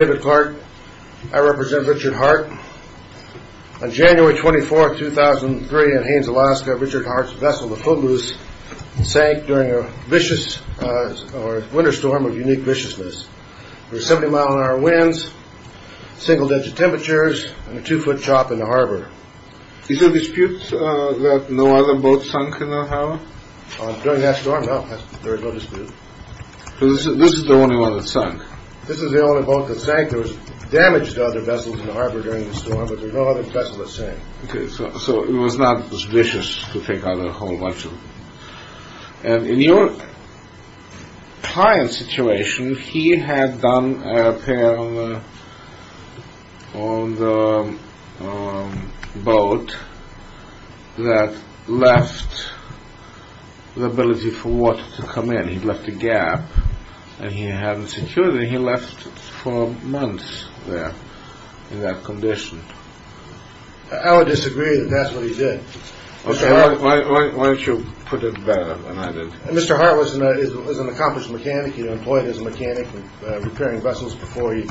I represent Richard Hart. On January 24, 2003, in Haines, Alaska, Richard Hart's vessel, the Phobos, sank during a winter storm of unique viciousness. There were 70-mile-an-hour winds, single-digit temperatures, and a two-foot chop in the harbor. Is there a dispute that no other boat sunk in the harbor? During that storm, no. There is no dispute. So this is the only one that sank? This is the only boat that sank. There was damage to other vessels in the harbor during the storm, but no other vessels sank. Okay, so it was not as vicious to take on a whole bunch of them. And in your client's situation, he had done a repair on the boat that left the ability for water to come in. He left a gap, and he hadn't secured it, and he left it for months there in that condition. I would disagree that that's what he did. Why don't you put it better than I did? Mr. Hart was an accomplished mechanic. He had employed as a mechanic repairing vessels before he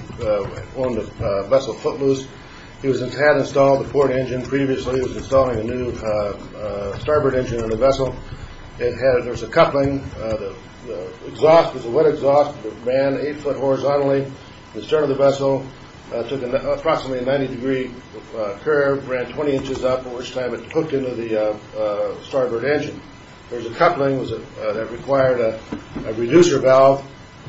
owned a vessel, Phobos. He had installed the port engine previously. He was installing a new starboard engine on the vessel. There was a coupling. The exhaust was a wet exhaust. It ran eight foot horizontally. The stern of the vessel took approximately a 90 degree curve, ran 20 inches up, at which time it hooked into the starboard engine. There was a coupling that required a reducer valve,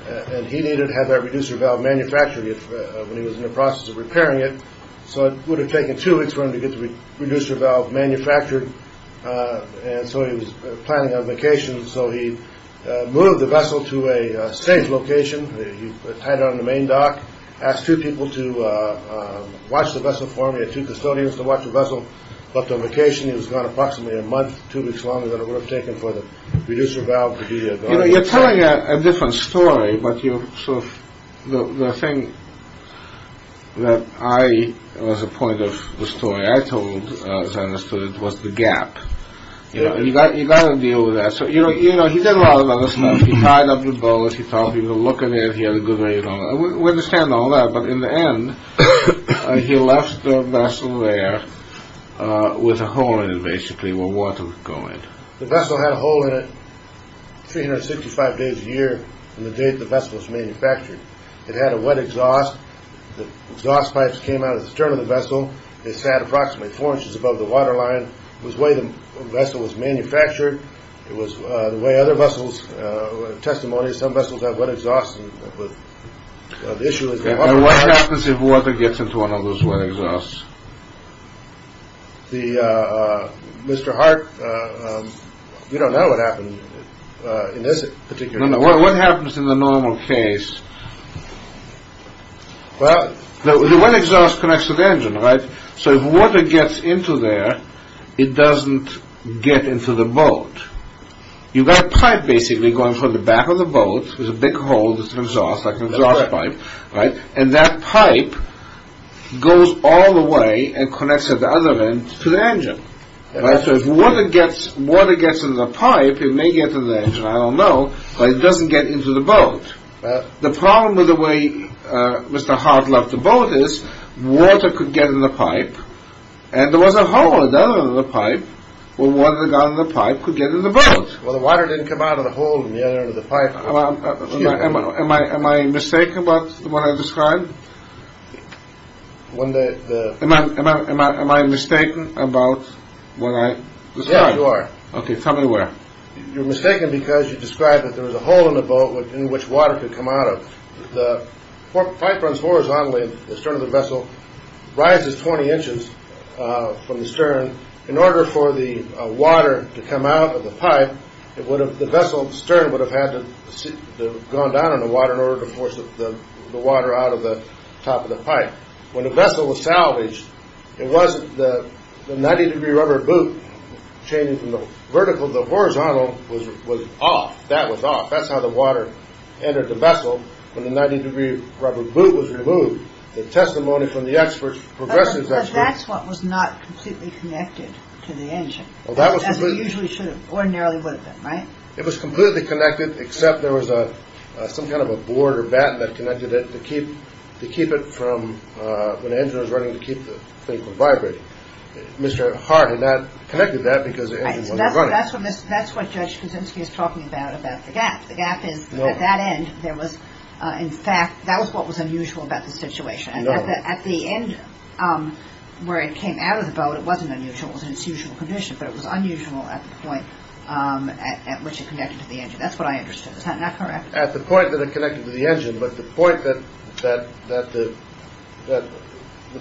and he needed to have that reducer valve manufactured when he was in the process of repairing it. So it would have taken two weeks for him to get the reducer valve manufactured, and so he was planning on vacation. So he moved the vessel to a safe location. He tied it on the main dock, asked two people to watch the vessel for him. He had two custodians to watch the vessel. But on vacation, he was gone approximately a month, two weeks longer, than it would have taken for the reducer valve to be installed. You're telling a different story, but the thing that I— You know, you've got to deal with that. So, you know, he did a lot of other stuff. He tied up the bows, he taught people to look at it. He had a good rate on it. We understand all that, but in the end, he left the vessel there with a hole in it, basically, where water would go in. The vessel had a hole in it 365 days a year from the date the vessel was manufactured. It had a wet exhaust. The exhaust pipes came out of the stern of the vessel. It sat approximately four inches above the water line. It was the way the vessel was manufactured. It was the way other vessels—testimonies, some vessels have wet exhausts. The issue is— What happens if water gets into one of those wet exhausts? Mr. Hart, you don't know what happens in this particular case. No, no. What happens in the normal case? Well, the wet exhaust connects to the engine, right? So if water gets into there, it doesn't get into the boat. You've got a pipe, basically, going from the back of the boat. There's a big hole that's an exhaust, like an exhaust pipe, right? And that pipe goes all the way and connects at the other end to the engine. So if water gets in the pipe, it may get to the engine. But the problem with the way Mr. Hart loved the boat is water could get in the pipe, and there was a hole at the other end of the pipe where water got in the pipe could get in the boat. Well, the water didn't come out of the hole in the other end of the pipe. Am I mistaken about what I described? When the— Am I mistaken about what I described? Yes, you are. Okay, tell me where. You're mistaken because you described that there was a hole in the boat in which water could come out of. The pipe runs horizontally, and the stern of the vessel rises 20 inches from the stern. In order for the water to come out of the pipe, the vessel's stern would have had to have gone down in the water in order to force the water out of the top of the pipe. When the vessel was salvaged, it wasn't the 90-degree rubber boot changing from the vertical. The horizontal was off. That was off. That's how the water entered the vessel. When the 90-degree rubber boot was removed, the testimony from the experts, progressives experts— But that's what was not completely connected to the engine, as it usually should have. Ordinarily would have been, right? It was completely connected, except there was some kind of a board or batten that connected it to keep it from—when the engine was running, to keep the thing from vibrating. Mr. Hart had not connected that because the engine wasn't running. That's what Judge Kuczynski is talking about, about the gap. The gap is, at that end, there was—in fact, that was what was unusual about the situation. No. At the end, where it came out of the boat, it wasn't unusual. It was in its usual condition, but it was unusual at the point at which it connected to the engine. That's what I understood. Is that correct? At the point that it connected to the engine, but the point that—the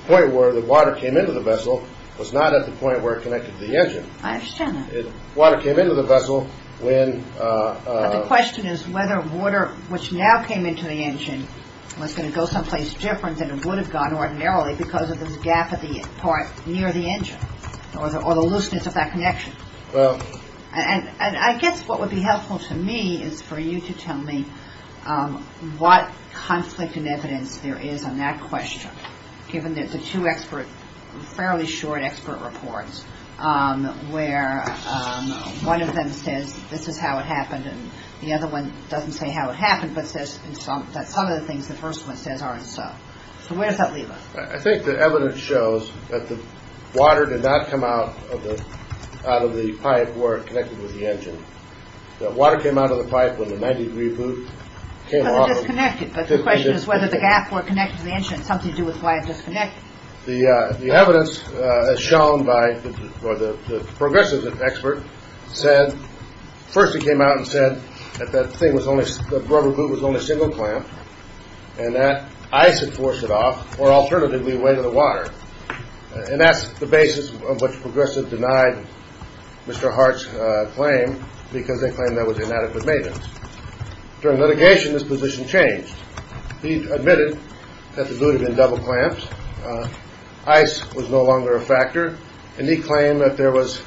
point where the water came into the vessel was not at the point where it connected to the engine. I understand that. Water came into the vessel when— But the question is whether water, which now came into the engine, was going to go someplace different than it would have gone ordinarily because of this gap at the part near the engine or the looseness of that connection. And I guess what would be helpful to me is for you to tell me what conflict in evidence there is on that question, given that the two expert—fairly short expert reports, where one of them says this is how it happened, and the other one doesn't say how it happened, but says that some of the things the first one says are and so. So where does that leave us? I think the evidence shows that the water did not come out of the pipe where it connected with the engine. The water came out of the pipe when the 90-degree boot came off. Because it disconnected. But the question is whether the gap where it connected to the engine had something to do with why it disconnected. The evidence, as shown by the progressive expert, said—first he came out and said that the rubber boot was only single clamped and that ice had forced it off, or alternatively, away to the water. And that's the basis on which progressive denied Mr. Hart's claim because they claimed there was inadequate maintenance. During litigation, this position changed. He admitted that the boot had been double clamped, ice was no longer a factor, and he claimed that there was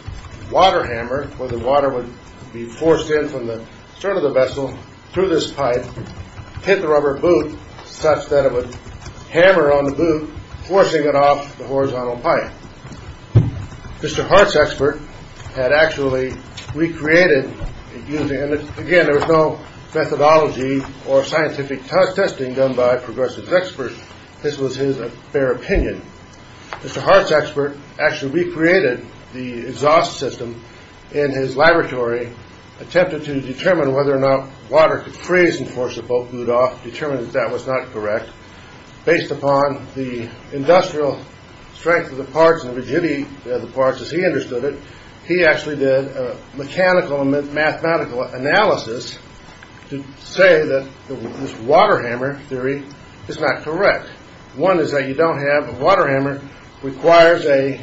water hammer, where the water would be forced in from the stern of the vessel through this pipe, hit the rubber boot such that it would hammer on the boot, forcing it off the horizontal pipe. Mr. Hart's expert had actually recreated using— and again, there was no methodology or scientific testing done by progressive experts. This was his bare opinion. Mr. Hart's expert actually recreated the exhaust system in his laboratory, attempted to determine whether or not water could freeze and force the boot off, determined that that was not correct. Based upon the industrial strength of the parts and rigidity of the parts as he understood it, he actually did a mechanical and mathematical analysis to say that this water hammer theory is not correct. One is that you don't have a water hammer, requires a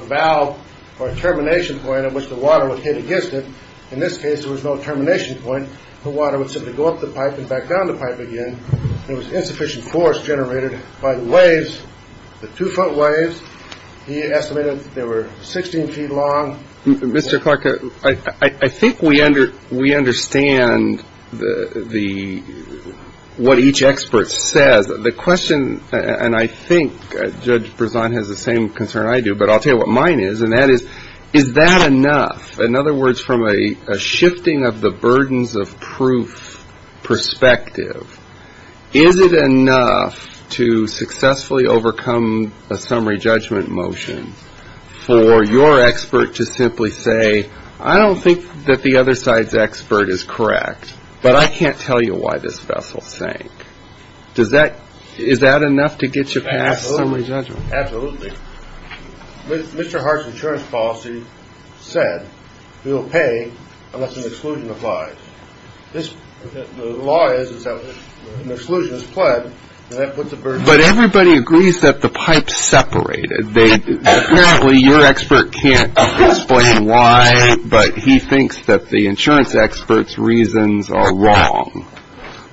valve or a termination point at which the water would hit against it. In this case, there was no termination point. The water would simply go up the pipe and back down the pipe again. There was insufficient force generated by the waves, the two-foot waves. He estimated they were 16 feet long. Mr. Clark, I think we understand what each expert says. The question, and I think Judge Brisson has the same concern I do, but I'll tell you what mine is, and that is, is that enough? In other words, from a shifting of the burdens of proof perspective, is it enough to successfully overcome a summary judgment motion for your expert to simply say, I don't think that the other side's expert is correct, but I can't tell you why this vessel sank. Is that enough to get you past summary judgment? Absolutely. Mr. Hart's insurance policy said you'll pay unless an exclusion applies. The law is that if an exclusion is pled, then that puts a burden on you. But everybody agrees that the pipes separated. Apparently, your expert can't explain why, but he thinks that the insurance expert's reasons are wrong.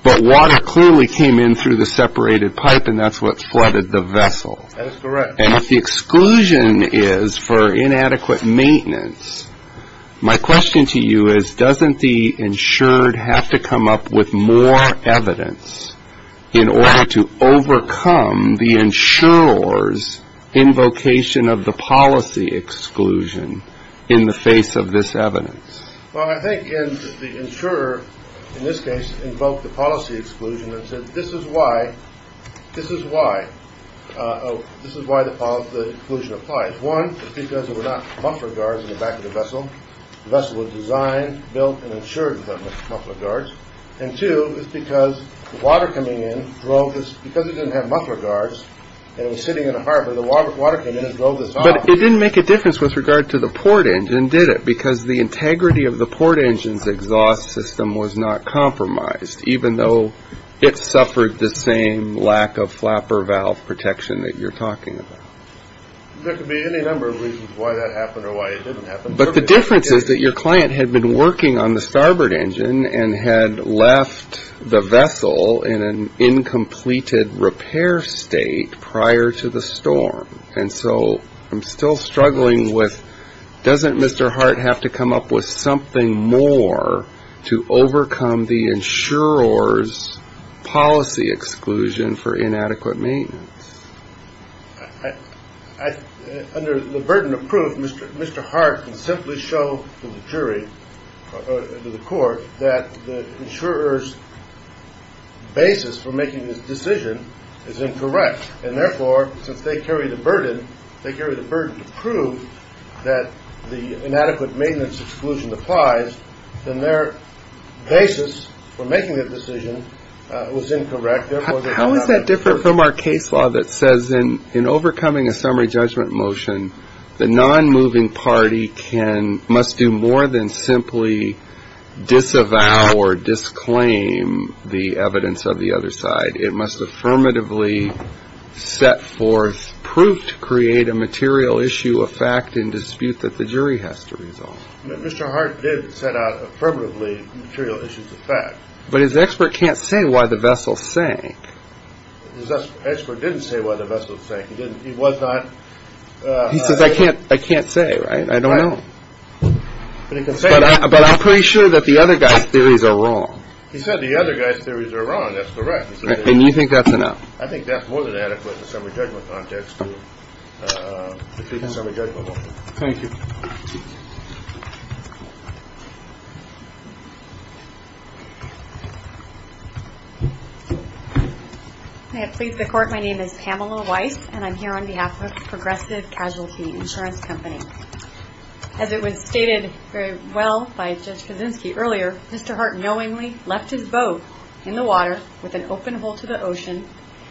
But water clearly came in through the separated pipe, and that's what flooded the vessel. That is correct. And if the exclusion is for inadequate maintenance, my question to you is, doesn't the insured have to come up with more evidence in order to overcome the insurer's invocation of the policy exclusion in the face of this evidence? Well, I think the insurer, in this case, invoked the policy exclusion and said, this is why the exclusion applies. One, it's because there were not muffler guards in the back of the vessel. The vessel was designed, built, and insured without muffler guards. And two, it's because the water coming in drove this, because it didn't have muffler guards and it was sitting in a harbor, the water came in and drove this off. But it didn't make a difference with regard to the port engine, did it? Because the integrity of the port engine's exhaust system was not compromised, even though it suffered the same lack of flapper valve protection that you're talking about. There could be any number of reasons why that happened or why it didn't happen. But the difference is that your client had been working on the starboard engine and had left the vessel in an incompleted repair state prior to the storm. And so I'm still struggling with doesn't Mr. Hart have to come up with something more to overcome the insurer's policy exclusion for inadequate maintenance? Under the burden of proof, Mr. Hart can simply show to the jury, to the court, that the insurer's basis for making this decision is incorrect. And therefore, since they carry the burden, they carry the burden to prove that the inadequate maintenance exclusion applies, then their basis for making that decision was incorrect. How is that different from our case law that says in overcoming a summary judgment motion, the non-moving party must do more than simply disavow or disclaim the evidence of the other side. It must affirmatively set forth proof to create a material issue of fact and dispute that the jury has to resolve. Mr. Hart did set out affirmatively material issues of fact. But his expert can't say why the vessel sank. His expert didn't say why the vessel sank. He didn't. He was not. He says, I can't. I can't say. Right. I don't know. But I'm pretty sure that the other guy's theories are wrong. He said the other guy's theories are wrong. That's correct. And you think that's enough. I think that's more than adequate in a summary judgment context to defeat a summary judgment motion. Thank you. May it please the Court. My name is Pamela Weiss, and I'm here on behalf of Progressive Casualty Insurance Company. As it was stated very well by Judge Kaczynski earlier, Mr. Hart knowingly left his boat in the water with an open hole to the ocean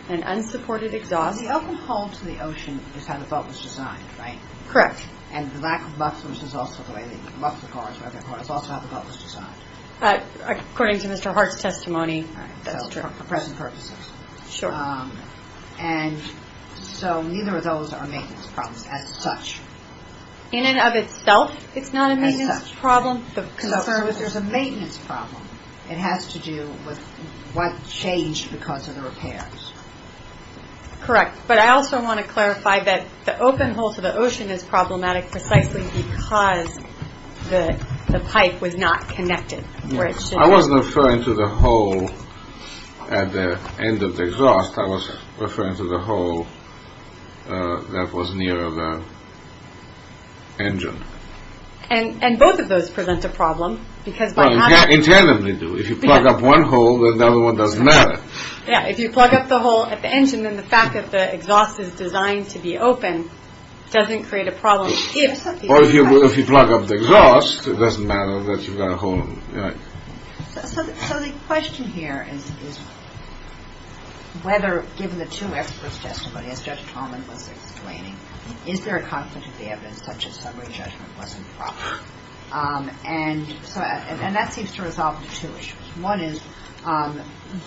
and unsupported exhaust. The open hole to the ocean is how the boat was designed, right? Correct. And the lack of mufflers is also how the boat was designed. According to Mr. Hart's testimony. For present purposes. Sure. And so neither of those are maintenance problems as such. In and of itself, it's not a maintenance problem. There's a maintenance problem. It has to do with what changed because of the repairs. Correct. But I also want to clarify that the open hole to the ocean is problematic precisely because the pipe was not connected. I wasn't referring to the hole at the end of the exhaust. I was referring to the hole that was near the engine. And both of those present a problem. Well, you can't internally do it. If you plug up one hole, then the other one doesn't matter. Yeah, if you plug up the hole at the engine, then the fact that the exhaust is designed to be open doesn't create a problem. Or if you plug up the exhaust, it doesn't matter that you've got a hole. So the question here is whether, given the two experts' testimony, as Judge Tolman was explaining, is there a conflict of the evidence such as summary judgment wasn't proper? And that seems to resolve two issues. One is did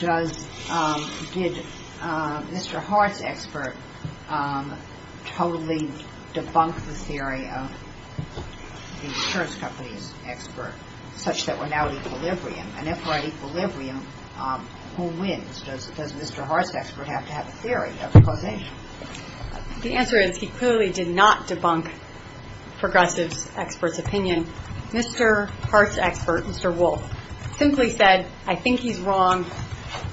Mr. Hart's expert totally debunk the theory of the insurance company's expert such that we're now at equilibrium? And if we're at equilibrium, who wins? Does Mr. Hart's expert have to have a theory of causation? The answer is he clearly did not debunk Progressive's expert's opinion. Mr. Hart's expert, Mr. Wolfe, simply said, I think he's wrong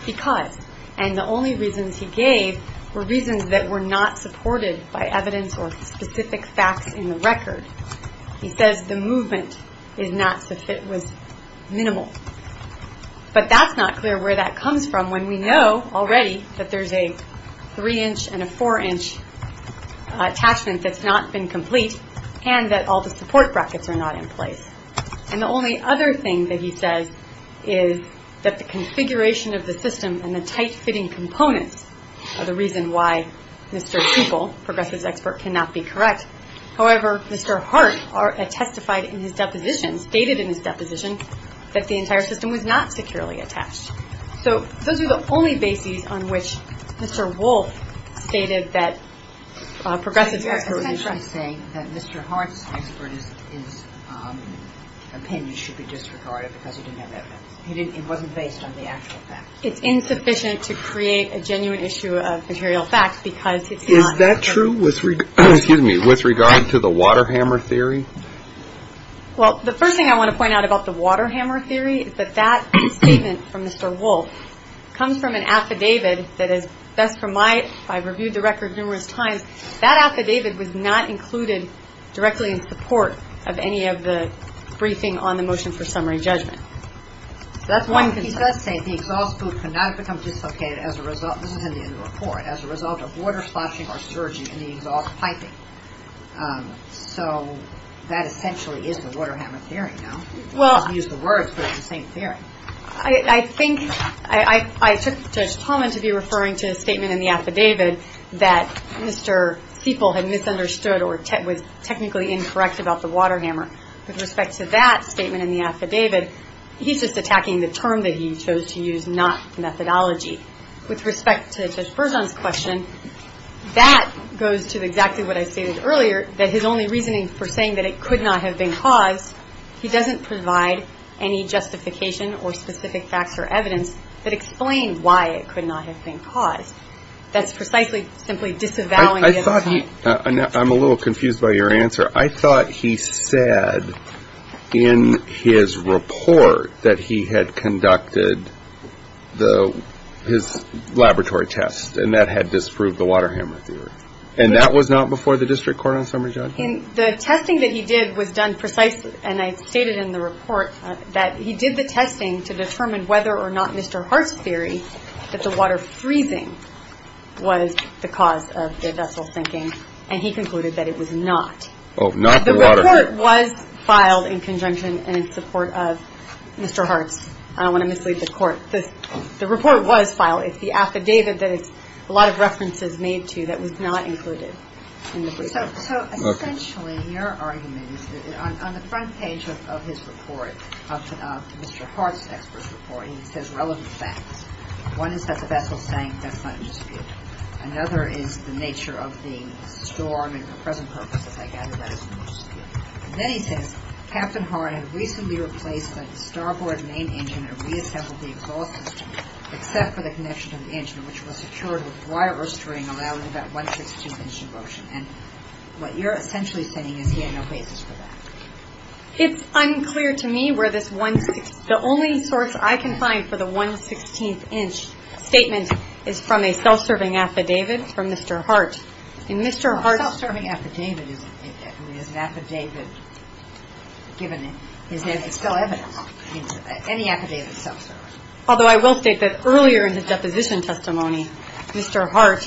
because. And the only reasons he gave were reasons that were not supported by evidence or specific facts in the record. He says the movement is not so if it was minimal. But that's not clear where that comes from when we know already that there's a three-inch and a four-inch attachment that's not been complete and that all the support brackets are not in place. And the only other thing that he says is that the configuration of the system and the tight-fitting components are the reason why Mr. Tupel, Progressive's expert, cannot be correct. However, Mr. Hart testified in his deposition, stated in his deposition, that the entire system was not securely attached. So those are the only bases on which Mr. Wolfe stated that Progressive's expert was incorrect. So you're essentially saying that Mr. Hart's expert's opinion should be disregarded because he didn't have evidence. It wasn't based on the actual facts. It's insufficient to create a genuine issue of material facts because it's not. Is that true with regard to the Waterhammer theory? Well, the first thing I want to point out about the Waterhammer theory is that that statement from Mr. Wolfe comes from an affidavit that is best for my – I've reviewed the record numerous times. That affidavit was not included directly in support of any of the briefing on the motion for summary judgment. So that's one concern. He does say the exhaust boot could not have become dislocated as a result – this is in the end of the report – as a result of water splashing or surging in the exhaust piping. So that essentially is the Waterhammer theory now. You can use the words, but it's the same theory. I think – I took Judge Pullman to be referring to a statement in the affidavit that Mr. Sieple had misunderstood or was technically incorrect about the Waterhammer. With respect to that statement in the affidavit, he's just attacking the term that he chose to use, not the methodology. With respect to Judge Bergeon's question, that goes to exactly what I stated earlier, that his only reasoning for saying that it could not have been caused, he doesn't provide any justification or specific facts or evidence that explain why it could not have been caused. That's precisely simply disavowing him. I'm a little confused by your answer. I thought he said in his report that he had conducted his laboratory test, and that had disproved the Waterhammer theory. And that was not before the district court on summary, Judge? The testing that he did was done precisely – and I stated in the report – that he did the testing to determine whether or not Mr. Hart's theory that the water freezing was the cause of the vessel sinking. And he concluded that it was not. Oh, not the water freezing. The report was filed in conjunction and in support of Mr. Hart's. I don't want to mislead the Court. The report was filed. It's the affidavit that it's a lot of references made to that was not included in the brief. So essentially, your argument is that on the front page of his report, Mr. Hart's expert report, he says relevant facts. One is that the vessel sank. That's not in dispute. Another is the nature of the storm, and for present purposes, I gather that is not in dispute. Then he says, Captain Hart had recently replaced the starboard main engine and reassembled the exhaust system, except for the connection to the engine, which was secured with wire or string, allowing about one-six-two engine motion. And what you're essentially saying is he had no basis for that. It's unclear to me where this one-sixty. The only source I can find for the one-sixteenth-inch statement is from a self-serving affidavit from Mr. Hart. In Mr. Hart's. A self-serving affidavit is an affidavit given in his name. It's still evidence. Any affidavit is self-serving. Although I will state that earlier in the deposition testimony, Mr. Hart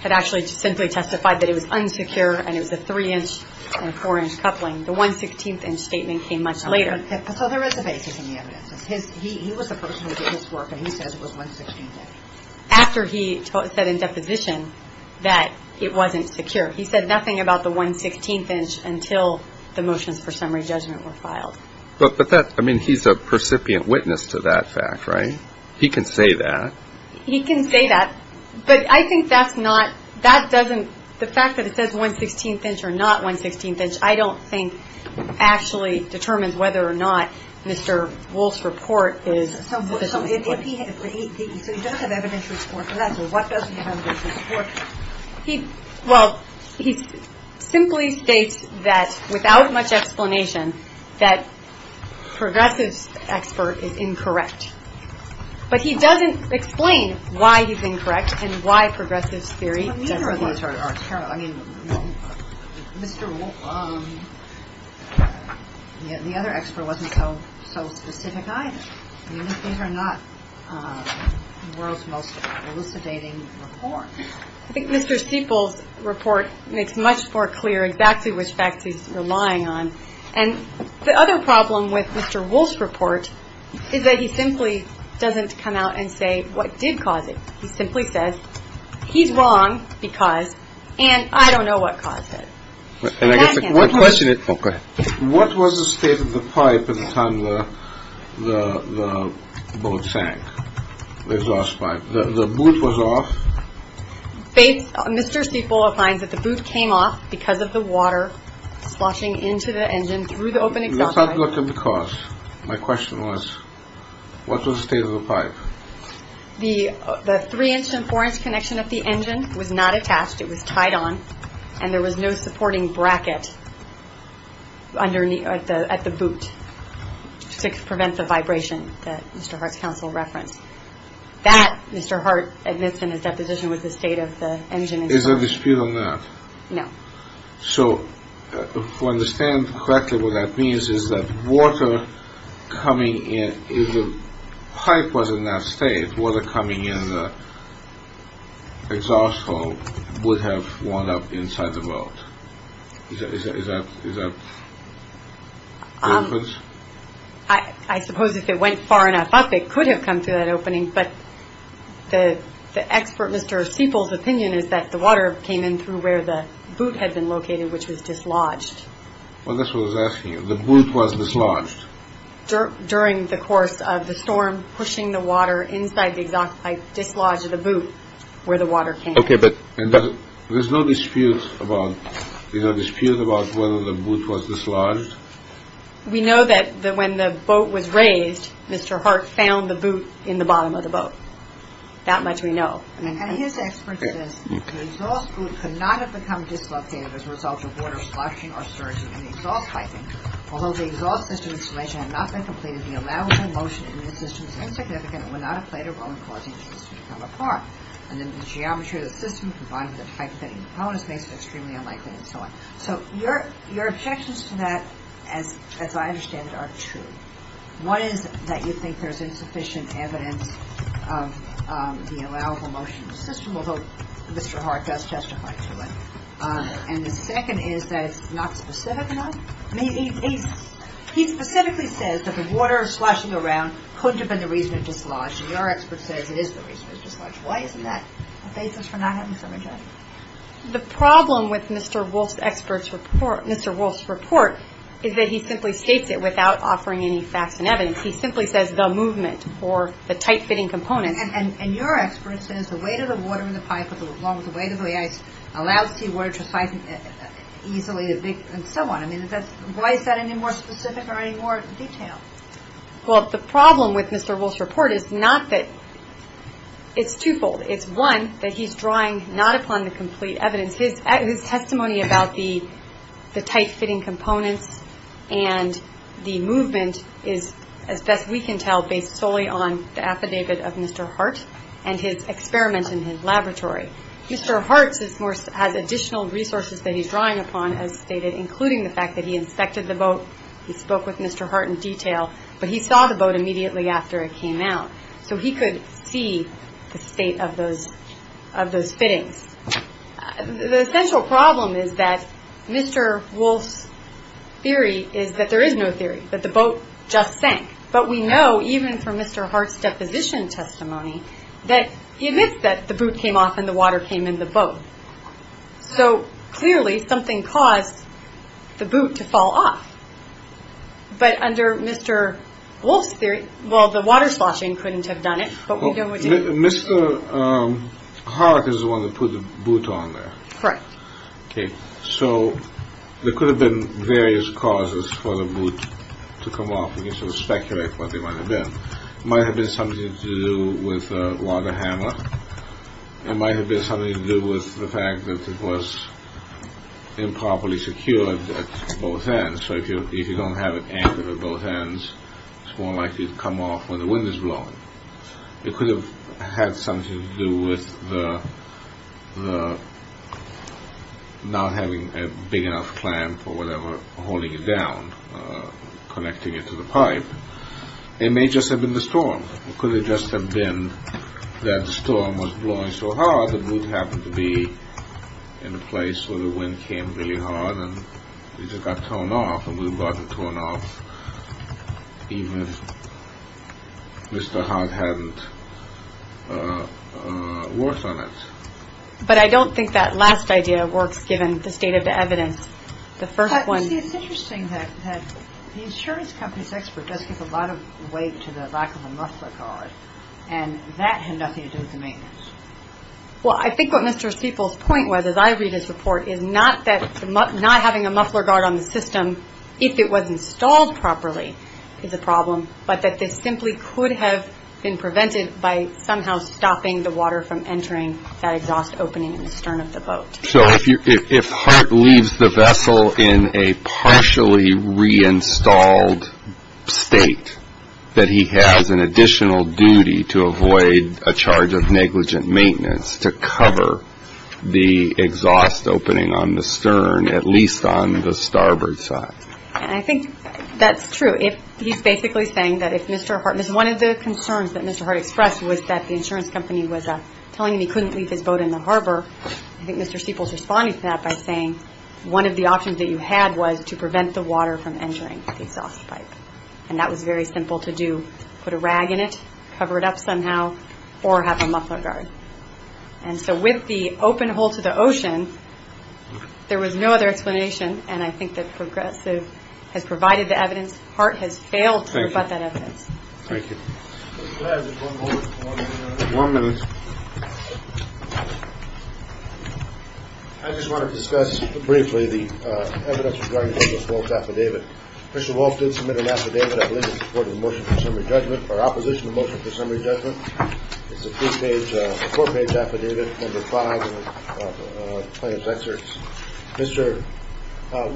had actually simply testified that it was unsecure, and it was a three-inch and a four-inch coupling. The one-sixteenth-inch statement came much later. So there is a basis in the evidence. He was the person who did this work, and he says it was one-sixteenth-inch. After he said in deposition that it wasn't secure. He said nothing about the one-sixteenth-inch until the motions for summary judgment were filed. But that, I mean, he's a percipient witness to that fact, right? He can say that. He can say that. But I think that's not, that doesn't, the fact that it says one-sixteenth-inch or not one-sixteenth-inch, I don't think actually determines whether or not Mr. Wolfe's report is sufficient. So if he, if he, so he doesn't have evidence to support for that. So what does he have evidence to support? He, well, he simply states that, without much explanation, that Progressive's expert is incorrect. But he doesn't explain why he's incorrect and why Progressive's theory doesn't hold true. I mean, Mr. Wolfe, the other expert wasn't so specific either. I mean, these are not the world's most elucidating reports. I think Mr. Siepel's report makes much more clear exactly which facts he's relying on. And the other problem with Mr. Wolfe's report is that he simply doesn't come out and say what did cause it. He simply says, he's wrong because, and I don't know what caused it. And I guess the question is, what was the state of the pipe at the time the boat sank, the exhaust pipe? The boot was off. Mr. Siepel finds that the boot came off because of the water sloshing into the engine through the open exhaust pipe. Let's have a look at the cause. The three-inch and four-inch connection of the engine was not attached. It was tied on. And there was no supporting bracket at the boot to prevent the vibration that Mr. Hart's counsel referenced. That, Mr. Hart admits in his deposition, was the state of the engine. Is there a dispute on that? No. So, if I understand correctly, what that means is that water coming in, if the pipe was in that state, water coming in the exhaust hole would have worn up inside the boat. Is that the difference? I suppose if it went far enough up, it could have come to that opening. But the expert, Mr. Siepel's opinion is that the water came in through where the boot had been located, which was dislodged. Well, that's what I was asking you. The boot was dislodged. During the course of the storm, pushing the water inside the exhaust pipe, dislodged the boot where the water came. Okay, but there's no dispute about whether the boot was dislodged? We know that when the boat was raised, Mr. Hart found the boot in the bottom of the boat. That much we know. And his expert says, the exhaust boot could not have become dislocated as a result of water sloshing or surging in the exhaust piping. Although the exhaust system installation had not been completed, the allowable motion in the system is insignificant and would not have played a role in causing the system to come apart. And then the geometry of the system, combined with the type of engine the propeller is based on, is extremely unlikely and so on. So your objections to that, as I understand it, are two. One is that you think there's insufficient evidence of the allowable motion in the system, although Mr. Hart does testify to it. And the second is that it's not specific enough. He specifically says that the water sloshing around couldn't have been the reason it dislodged, and your expert says it is the reason it dislodged. Why isn't that a basis for not having some objection? The problem with Mr. Wolfe's expert's report, Mr. Wolfe's report, is that he simply states it without offering any facts and evidence. He simply says the movement or the tight-fitting component. And your expert says the weight of the water in the pipe, along with the weight of the ice, allows seawater to slide easily and so on. I mean, why is that any more specific or any more detailed? Well, the problem with Mr. Wolfe's report is not that it's twofold. It's, one, that he's drawing not upon the complete evidence. His testimony about the tight-fitting components and the movement is, as best we can tell, based solely on the affidavit of Mr. Hart and his experiment in his laboratory. Mr. Hart has additional resources that he's drawing upon, as stated, including the fact that he inspected the boat, he spoke with Mr. Hart in detail, but he saw the boat immediately after it came out. So he could see the state of those fittings. The essential problem is that Mr. Wolfe's theory is that there is no theory, that the boat just sank. But we know, even from Mr. Hart's deposition testimony, that he admits that the boot came off and the water came in the boat. So, clearly, something caused the boot to fall off. But under Mr. Wolfe's theory, well, the water sloshing couldn't have done it, but we know it did. Mr. Hart is the one who put the boot on there. Correct. Okay. So there could have been various causes for the boot to come off. You can sort of speculate what they might have been. It might have been something to do with a water hammer. It might have been something to do with the fact that it was improperly secured at both ends. So if you don't have it anchored at both ends, it's more likely to come off when the wind is blowing. It could have had something to do with not having a big enough clamp or whatever holding it down, connecting it to the pipe. It may just have been the storm. It could have just have been that the storm was blowing so hard, the boot happened to be in a place where the wind came really hard and it just got torn off, and we would have gotten it torn off even if Mr. Hart hadn't worked on it. But I don't think that last idea works, given the state of the evidence. It's interesting that the insurance company's expert does give a lot of weight to the lack of a muffler guard, and that had nothing to do with the maintenance. Well, I think what Mr. Spiegel's point was, as I read his report, is not that not having a muffler guard on the system, if it was installed properly, is a problem, but that this simply could have been prevented by somehow stopping the water from entering that exhaust opening in the stern of the boat. So if Hart leaves the vessel in a partially reinstalled state, that he has an additional duty to avoid a charge of negligent maintenance to cover the exhaust opening on the stern, at least on the starboard side. And I think that's true. He's basically saying that if Mr. Hart – one of the concerns that Mr. Hart expressed was that the insurance company was telling him he couldn't leave his boat in the harbor. I think Mr. Spiegel's responding to that by saying one of the options that you had was to prevent the water from entering the exhaust pipe, and that was very simple to do. Put a rag in it, cover it up somehow, or have a muffler guard. And so with the open hole to the ocean, there was no other explanation, and I think that Progressive has provided the evidence. Hart has failed to rebut that evidence. Thank you. One moment. I just want to discuss briefly the evidence regarding Mr. Wolf's affidavit. Mr. Wolf did submit an affidavit, I believe, in support of the motion for summary judgment, or opposition to the motion for summary judgment. It's a four-page affidavit, number five in the plaintiff's excerpts. Mr.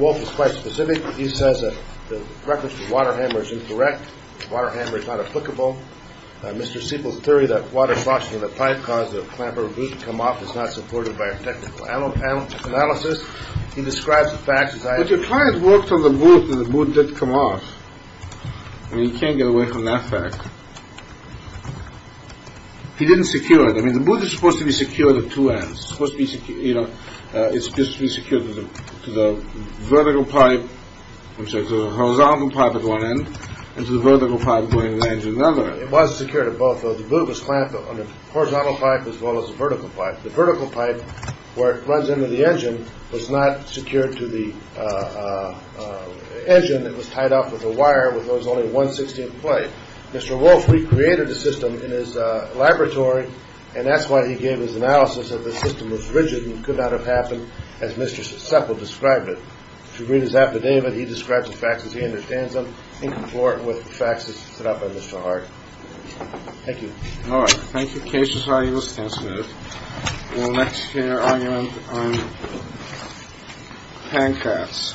Wolf is quite specific. He says that the reference to the water hammer is incorrect. The water hammer is not applicable. Mr. Spiegel's theory that water suction in the pipe caused the clamper boot to come off is not supported by our technical analysis. He describes the facts as I have. But your client worked on the boot, and the boot did come off. I mean, you can't get away from that fact. He didn't secure it. I mean, the boot is supposed to be secured at two ends. It's supposed to be secured to the vertical pipe, which is a horizontal pipe at one end, and to the vertical pipe going to the engine at the other end. It was secured at both. The boot was clamped on the horizontal pipe as well as the vertical pipe. The vertical pipe, where it runs into the engine, was not secured to the engine. It was tied off with a wire, with what was only a 1-16 plate. Mr. Wolf recreated the system in his laboratory, and that's why he gave his analysis that the system was rigid and could not have happened as Mr. Seppel described it. If you read his affidavit, he describes the facts as he understands them, in confort with the facts as set out by Mr. Hart. Thank you. All right. Thank you. The case is now in a standstill. We'll next hear an argument on Pankratz v. Pankratz v.